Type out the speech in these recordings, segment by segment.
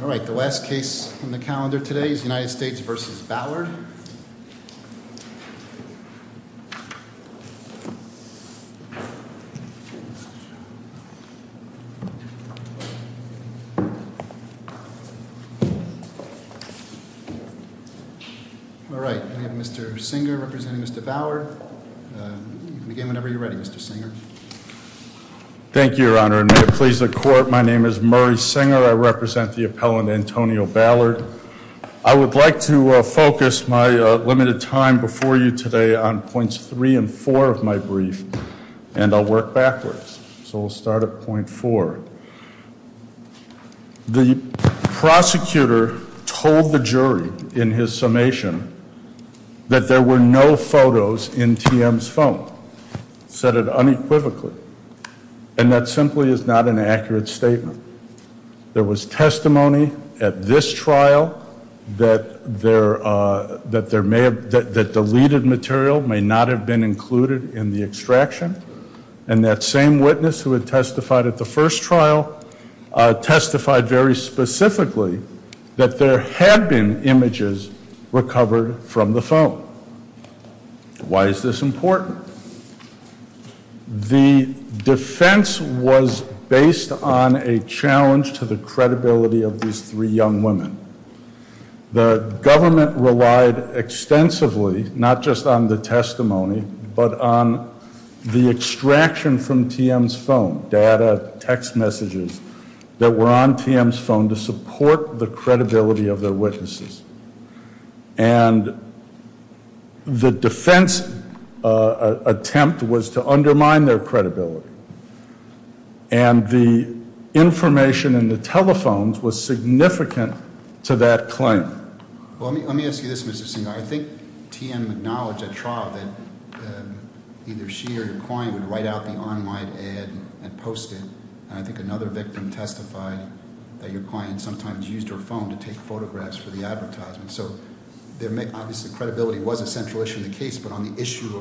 Alright, the last case on the calendar today is United States v. Ballard Alright, we have Mr. Singer representing Mr. Ballard Whenever you're ready Mr. Singer Thank you your honor, and may it please the court, my name is Murray Singer, I represent the appellant Antonio Ballard I would like to focus my limited time before you today on points 3 and 4 of my brief And I'll work backwards, so we'll start at point 4 The prosecutor told the jury in his summation That there were no photos in TM's phone Said it unequivocally, and that simply is not an accurate statement There was testimony at this trial That deleted material may not have been included in the extraction And that same witness who had testified at the first trial Testified very specifically that there had been images recovered from the phone Why is this important? The defense was based on a challenge to the credibility of these three young women The government relied extensively, not just on the testimony But on the extraction from TM's phone, data, text messages That were on TM's phone to support the credibility of their witnesses And the defense attempt was to undermine their credibility And the information in the telephones was significant to that claim Well let me ask you this Mr. Singer, I think TM acknowledged at trial That either she or your client would write out the online ad and post it And I think another victim testified that your client sometimes used her phone To take photographs for the advertisement So obviously credibility was a central issue in the case But on the issue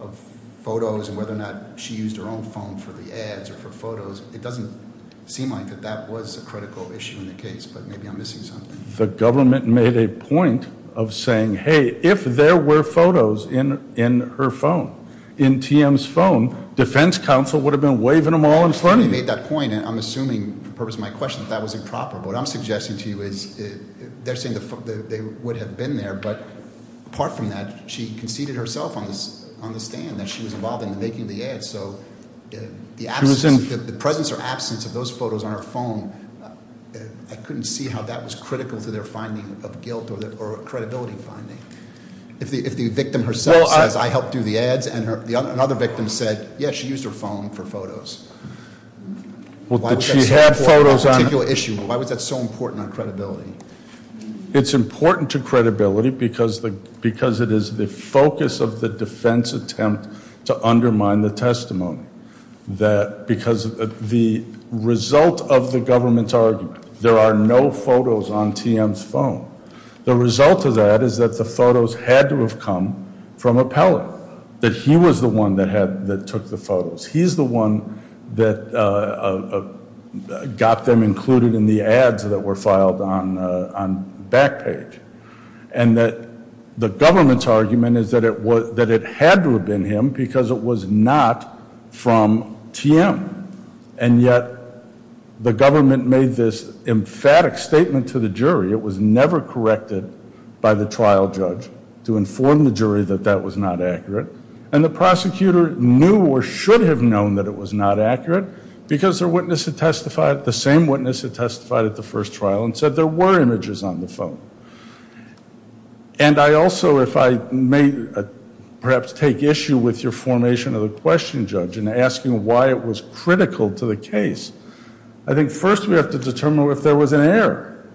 of photos and whether or not she used her own phone for the ads Or for photos, it doesn't seem like that was a critical issue in the case But maybe I'm missing something The government made a point of saying Hey, if there were photos in her phone, in TM's phone Defense counsel would have been waving them all in front of you They made that point and I'm assuming for the purpose of my question that that was improper But what I'm suggesting to you is They're saying they would have been there But apart from that, she conceded herself on the stand That she was involved in the making of the ads So the presence or absence of those photos on her phone I couldn't see how that was critical to their finding of guilt or credibility finding If the victim herself says, I helped do the ads And another victim said, yes, she used her phone for photos Why was that so important on credibility? It's important to credibility because it is the focus of the defense attempt To undermine the testimony Because the result of the government's argument There are no photos on TM's phone The result of that is that the photos had to have come from Appellant That he was the one that took the photos He's the one that got them included in the ads that were filed on Backpage And that the government's argument is that it had to have been him Because it was not from TM And yet the government made this emphatic statement to the jury It was never corrected by the trial judge to inform the jury that that was not accurate And the prosecutor knew or should have known that it was not accurate Because the same witness had testified at the first trial And said there were images on the phone And I also, if I may perhaps take issue with your formation of the question judge And asking why it was critical to the case I think first we have to determine if there was an error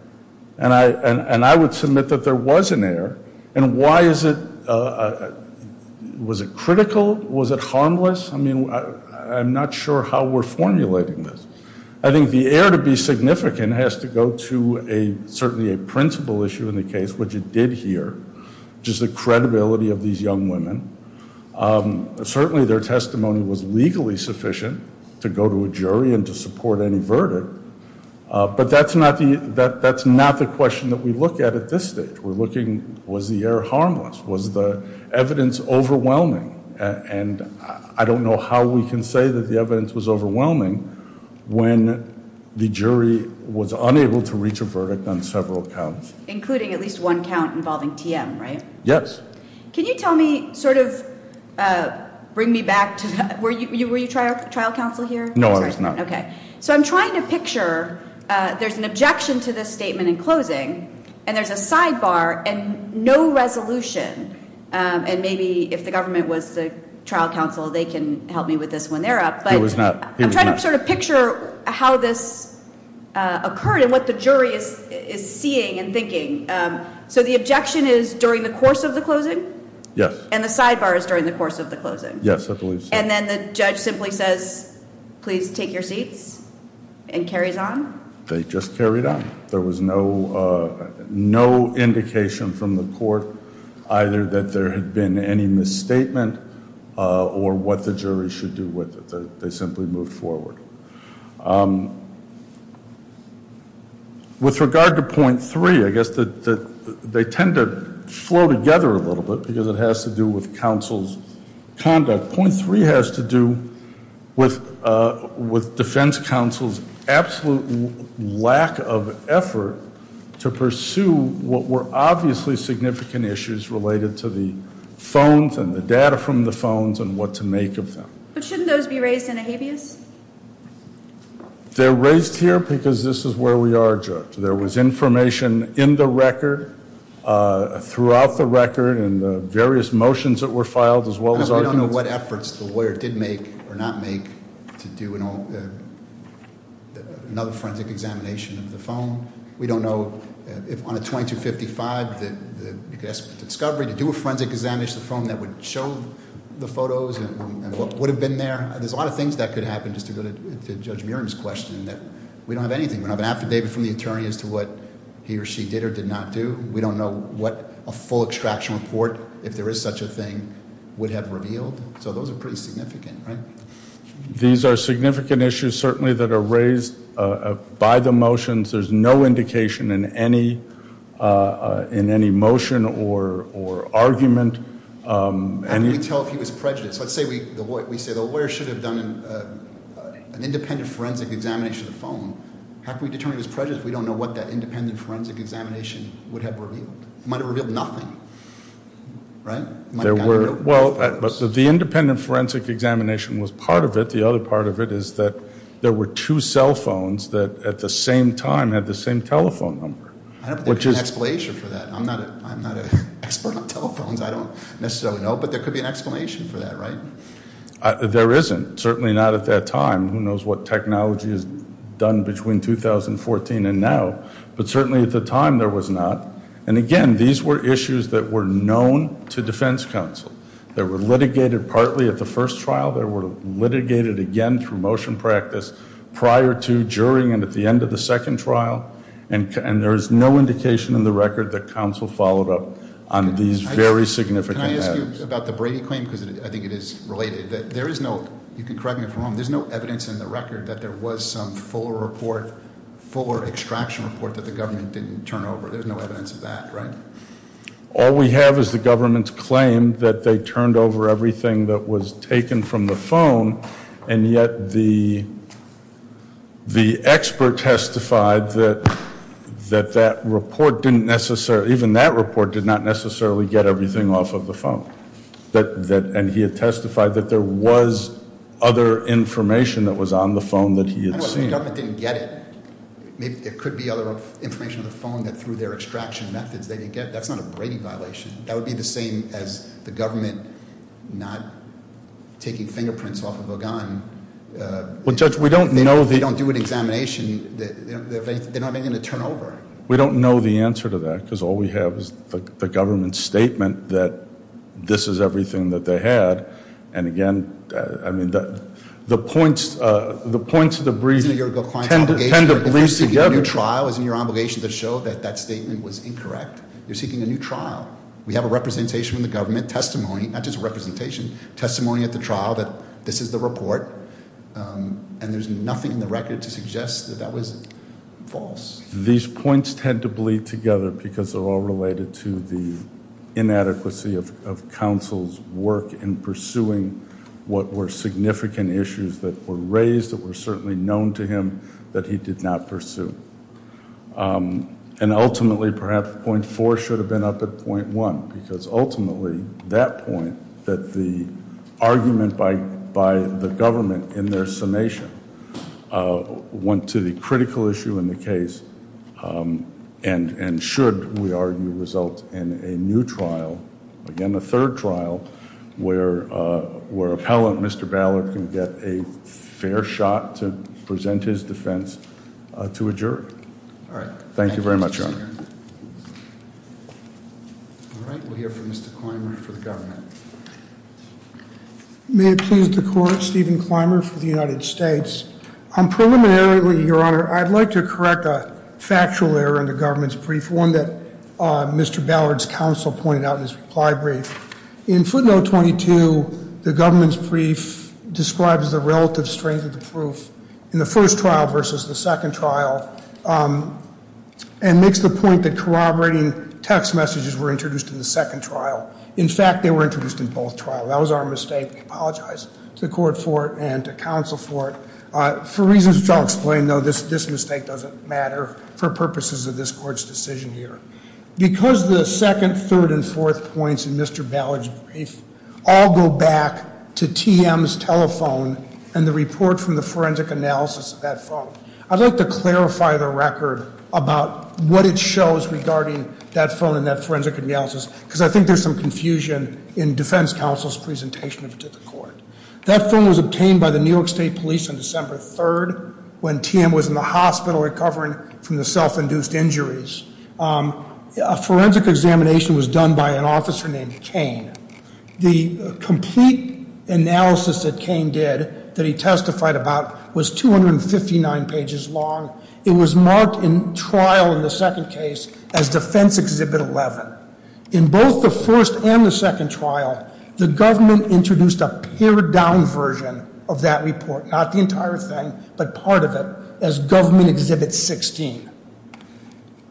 And I would submit that there was an error And why is it, was it critical, was it harmless I mean I'm not sure how we're formulating this I think the error to be significant has to go to a Certainly a principle issue in the case which it did here Which is the credibility of these young women Certainly their testimony was legally sufficient To go to a jury and to support any verdict But that's not the question that we look at at this stage We're looking was the error harmless Was the evidence overwhelming And I don't know how we can say that the evidence was overwhelming When the jury was unable to reach a verdict on several counts Including at least one count involving TM, right? Yes Can you tell me, sort of bring me back to Were you trial counsel here? No I was not Okay, so I'm trying to picture There's an objection to this statement in closing And there's a sidebar and no resolution And maybe if the government was the trial counsel They can help me with this when they're up I'm trying to sort of picture how this occurred And what the jury is seeing and thinking So the objection is during the course of the closing? Yes And the sidebar is during the course of the closing? Yes, I believe so And then the judge simply says Please take your seats And carries on? They just carried on There was no indication from the court Either that there had been any misstatement Or what the jury should do with it They simply moved forward With regard to point three I guess they tend to flow together a little bit Because it has to do with counsel's conduct But point three has to do with defense counsel's Absolute lack of effort to pursue What were obviously significant issues Related to the phones and the data from the phones And what to make of them But shouldn't those be raised in a habeas? They're raised here because this is where we are, Judge There was information in the record Throughout the record And the various motions that were filed We don't know what efforts the lawyer did make or not make To do another forensic examination of the phone We don't know if on a 2255 The discovery to do a forensic examination of the phone That would show the photos And what would have been there There's a lot of things that could happen Just to go to Judge Muriam's question We don't have anything We don't have an affidavit from the attorney As to what he or she did or did not do We don't know what a full extraction report If there is such a thing would have revealed So those are pretty significant, right? These are significant issues Certainly that are raised by the motions There's no indication in any motion or argument How can we tell if he was prejudiced? Let's say we say the lawyer should have done An independent forensic examination of the phone How can we determine he was prejudiced If we don't know what that independent forensic examination Would have revealed? It might have revealed nothing Right? The independent forensic examination was part of it The other part of it is that there were two cell phones That at the same time had the same telephone number I don't think there's an explanation for that I'm not an expert on telephones I don't necessarily know But there could be an explanation for that, right? There isn't Certainly not at that time Who knows what technology is done between 2014 and now But certainly at the time there was not And again, these were issues that were known to defense counsel They were litigated partly at the first trial They were litigated again through motion practice Prior to, during, and at the end of the second trial And there's no indication in the record That counsel followed up on these very significant matters Can I ask you about the Brady claim? Because I think it is related There is no, you can correct me if I'm wrong There's no evidence in the record That there was some fuller report Fuller extraction report that the government didn't turn over There's no evidence of that, right? All we have is the government's claim That they turned over everything that was taken from the phone And yet the expert testified That that report didn't necessarily Even that report did not necessarily get everything off of the phone And he had testified that there was other information That was on the phone that he had seen The government didn't get it It could be other information on the phone That through their extraction methods they didn't get That's not a Brady violation That would be the same as the government Not taking fingerprints off of a gun They don't do an examination They don't have anything to turn over We don't know the answer to that Because all we have is the government's statement That this is everything that they had And again, I mean, the points of the brief Tend to bleed together Your obligation to show that that statement was incorrect You're seeking a new trial We have a representation from the government Testimony, not just representation Testimony at the trial that this is the report And there's nothing in the record to suggest that that was false These points tend to bleed together Because they're all related to the inadequacy of counsel's work In pursuing what were significant issues that were raised That were certainly known to him that he did not pursue And ultimately, perhaps, point four should have been up at point one Because ultimately, that point That the argument by the government in their summation Went to the critical issue in the case And should, we argue, result in a new trial Again, a third trial Where appellant Mr. Ballard can get a fair shot To present his defense to a jury Thank you very much, Your Honor All right, we'll hear from Mr. Clymer for the government May it please the Court Stephen Clymer for the United States Preliminarily, Your Honor I'd like to correct a factual error in the government's brief One that Mr. Ballard's counsel pointed out in his reply brief In footnote 22, the government's brief Describes the relative strength of the proof In the first trial versus the second trial And makes the point that corroborating text messages Were introduced in the second trial In fact, they were introduced in both trials That was our mistake We apologize to the Court for it And to counsel for it For reasons which I'll explain, though This mistake doesn't matter For purposes of this Court's decision here Because the second, third, and fourth points In Mr. Ballard's brief All go back to TM's telephone And the report from the forensic analysis of that phone I'd like to clarify the record About what it shows regarding that phone And that forensic analysis Because I think there's some confusion In defense counsel's presentation to the Court That phone was obtained by the New York State Police On December 3rd When TM was in the hospital Recovering from the self-induced injuries A forensic examination was done by an officer named Cain The complete analysis that Cain did That he testified about Was 259 pages long It was marked in trial in the second case As Defense Exhibit 11 In both the first and the second trial The government introduced a pared down version Of that report Not the entire thing But part of it As Government Exhibit 16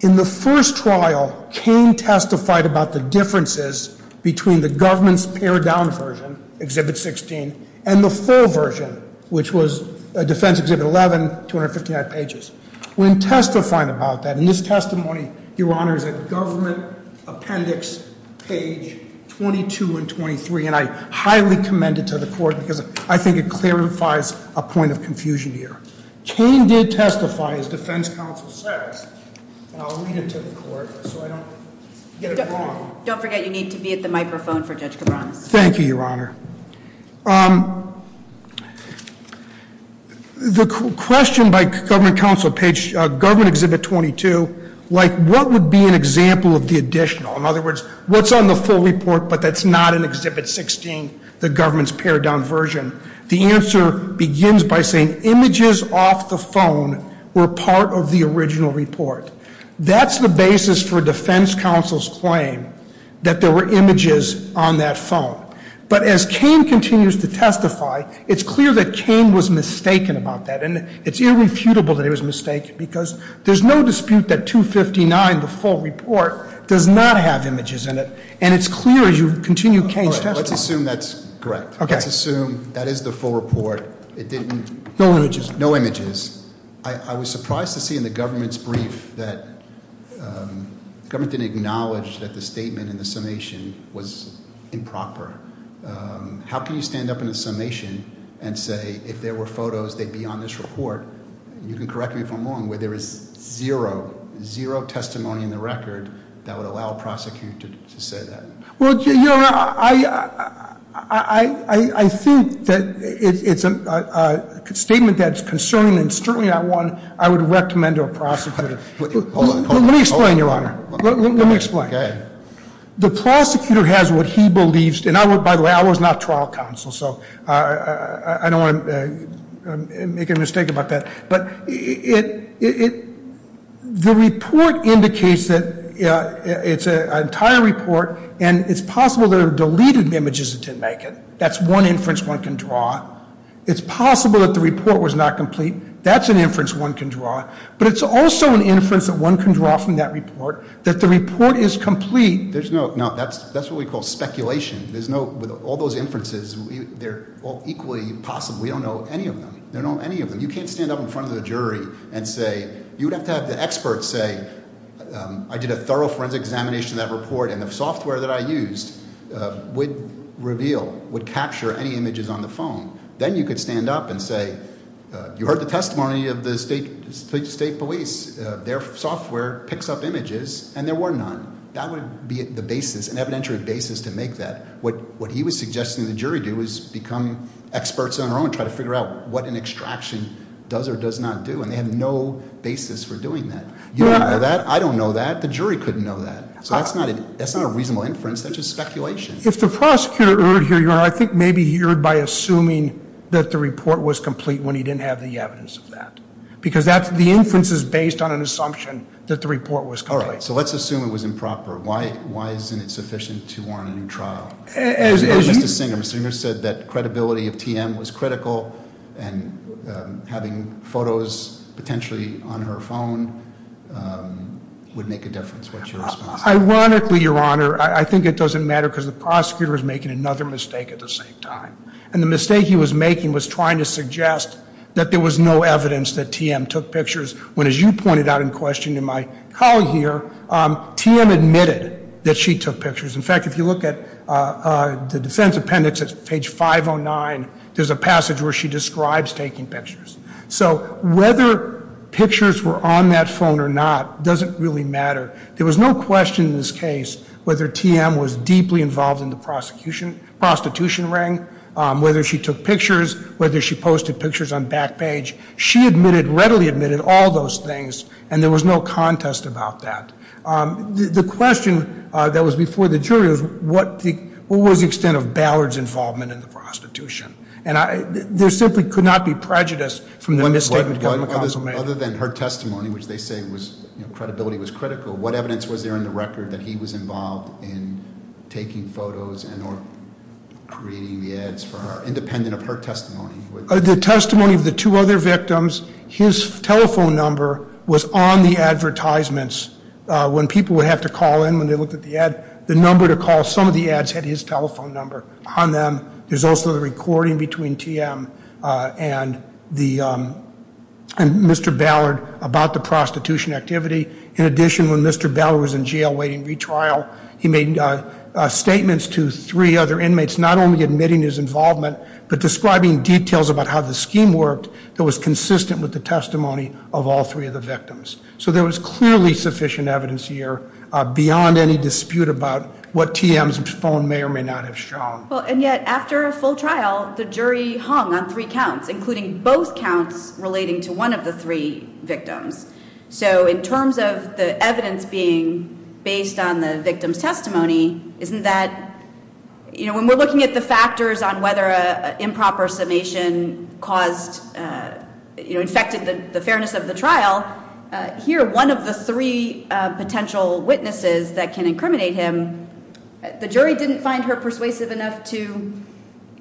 In the first trial Cain testified about the differences Between the government's pared down version Exhibit 16 And the full version Which was Defense Exhibit 11 259 pages When testifying about that In this testimony Your Honor Is at Government Appendix page 22 and 23 And I highly commend it to the Court Because I think it clarifies A point of confusion here Cain did testify As Defense Counsel said And I'll read it to the Court So I don't get it wrong Don't forget you need to be at the microphone For Judge Cabranes Thank you, Your Honor The question by Government Counsel Page Government Exhibit 22 Like what would be an example of the additional In other words What's on the full report But that's not in Exhibit 16 The government's pared down version The answer begins by saying The images off the phone Were part of the original report That's the basis for Defense Counsel's claim That there were images on that phone But as Cain continues to testify It's clear that Cain was mistaken about that And it's irrefutable that he was mistaken Because there's no dispute that 259 The full report Does not have images in it And it's clear as you continue Cain's testimony Let's assume that's correct Let's assume that is the full report It didn't No images No images I was surprised to see in the government's brief That government didn't acknowledge That the statement in the summation Was improper How can you stand up in a summation And say if there were photos They'd be on this report You can correct me if I'm wrong Where there is zero Zero testimony in the record That would allow a prosecutor to say that Well, Your Honor I think that it's a statement that's concerning And certainly not one I would recommend to a prosecutor Hold on Let me explain, Your Honor Let me explain Go ahead The prosecutor has what he believes And by the way, I was not trial counsel So I don't want to make a mistake about that But the report indicates that It's an entire report And it's possible there are deleted images That didn't make it That's one inference one can draw It's possible that the report was not complete That's an inference one can draw But it's also an inference that one can draw From that report That the report is complete There's no No, that's what we call speculation There's no With all those inferences They're all equally possible We don't know any of them We don't know any of them You can't stand up in front of the jury And say You'd have to have the experts say I did a thorough forensic examination of that report And the software that I used would reveal Would capture any images on the phone Then you could stand up and say You heard the testimony of the state police Their software picks up images And there were none That would be the basis An evidentiary basis to make that What he was suggesting the jury do Is become experts on their own Try to figure out what an extraction does or does not do And they have no basis for doing that You don't know that I don't know that The jury couldn't know that So that's not a reasonable inference That's just speculation If the prosecutor heard here I think maybe he heard by assuming That the report was complete When he didn't have the evidence of that Because the inference is based on an assumption That the report was complete So let's assume it was improper Why isn't it sufficient to warrant a new trial? And having photos potentially on her phone Would make a difference Ironically, your honor I think it doesn't matter Because the prosecutor is making another mistake At the same time And the mistake he was making Was trying to suggest That there was no evidence That TM took pictures When, as you pointed out in question And my colleague here TM admitted that she took pictures In fact, if you look at The defense appendix at page 509 There's a passage where she describes taking pictures So whether pictures were on that phone or not Doesn't really matter There was no question in this case Whether TM was deeply involved In the prostitution ring Whether she took pictures Whether she posted pictures on Backpage She readily admitted all those things And there was no contest about that The question that was before the jury Was what was the extent of Ballard's involvement In the prostitution? And there simply could not be prejudice From the misstatement Other than her testimony Which they say was Credibility was critical What evidence was there in the record That he was involved in taking photos And or creating the ads for her Independent of her testimony? The testimony of the two other victims His telephone number was on the advertisements When people would have to call in When they looked at the ad The number to call Some of the ads had his telephone number on them There's also the recording between TM And Mr. Ballard About the prostitution activity In addition, when Mr. Ballard was in jail Waiting retrial He made statements to three other inmates Not only admitting his involvement But describing details about how the scheme worked That was consistent with the testimony Of all three of the victims So there was clearly sufficient evidence here Beyond any dispute about What TM's phone may or may not have shown And yet, after a full trial The jury hung on three counts Including both counts Relating to one of the three victims So in terms of the evidence being Based on the victim's testimony Isn't that You know, when we're looking at the factors On whether an improper summation Caused You know, infected the fairness of the trial Here, one of the three potential witnesses That can incriminate him The jury didn't find her persuasive enough To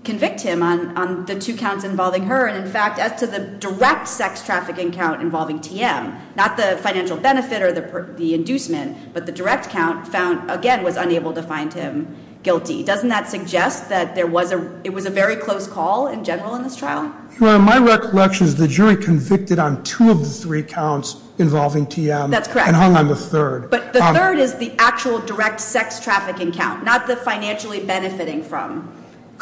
convict him on the two counts involving her And in fact, as to the direct sex trafficking count Involving TM Not the financial benefit or the inducement But the direct count found Again, was unable to find him guilty Doesn't that suggest that there was a It was a very close call in general in this trial? Well, in my recollection The jury convicted on two of the three counts Involving TM That's correct And hung on the third But the third is the actual direct sex trafficking count Not the financially benefiting from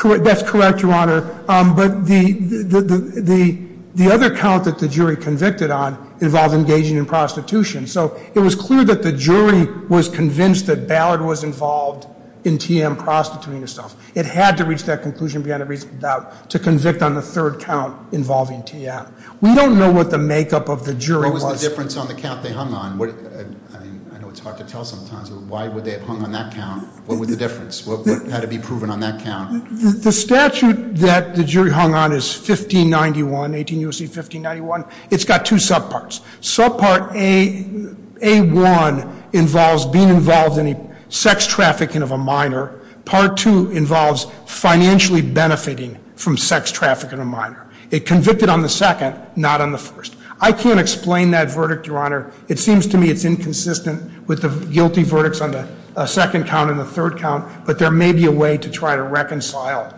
That's correct, your honor But the The other count that the jury convicted on Involved engaging in prostitution So it was clear that the jury Was convinced that Ballard was involved In TM prostituting herself It had to reach that conclusion To convict on the third count Involving TM We don't know what the makeup of the jury was What was the difference on the count they hung on? I know it's hard to tell sometimes Why would they have hung on that count? What was the difference? What had to be proven on that count? The statute that the jury hung on is 1591 18 U.S.C. 1591 It's got two subparts Subpart A1 Involves being involved in a Sex trafficking of a minor Part 2 involves financially benefiting From sex trafficking of a minor It convicted on the second Not on the first I can't explain that verdict, your honor It seems to me it's inconsistent With the guilty verdict on the second count And the third count But there may be a way to try to reconcile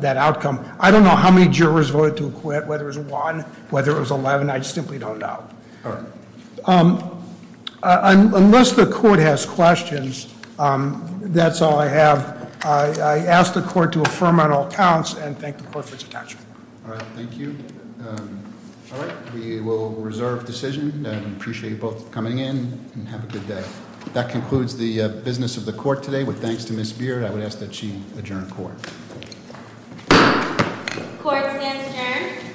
That outcome I don't know how many jurors voted to acquit Whether it was one Whether it was 11 I simply don't know All right Unless the court has questions That's all I have I ask the court to affirm on all counts And thank the court for its attention All right, thank you All right, we will reserve decision I appreciate you both coming in And have a good day That concludes the business of the court today With thanks to Ms. Beard I would ask that she adjourn court Court stands adjourned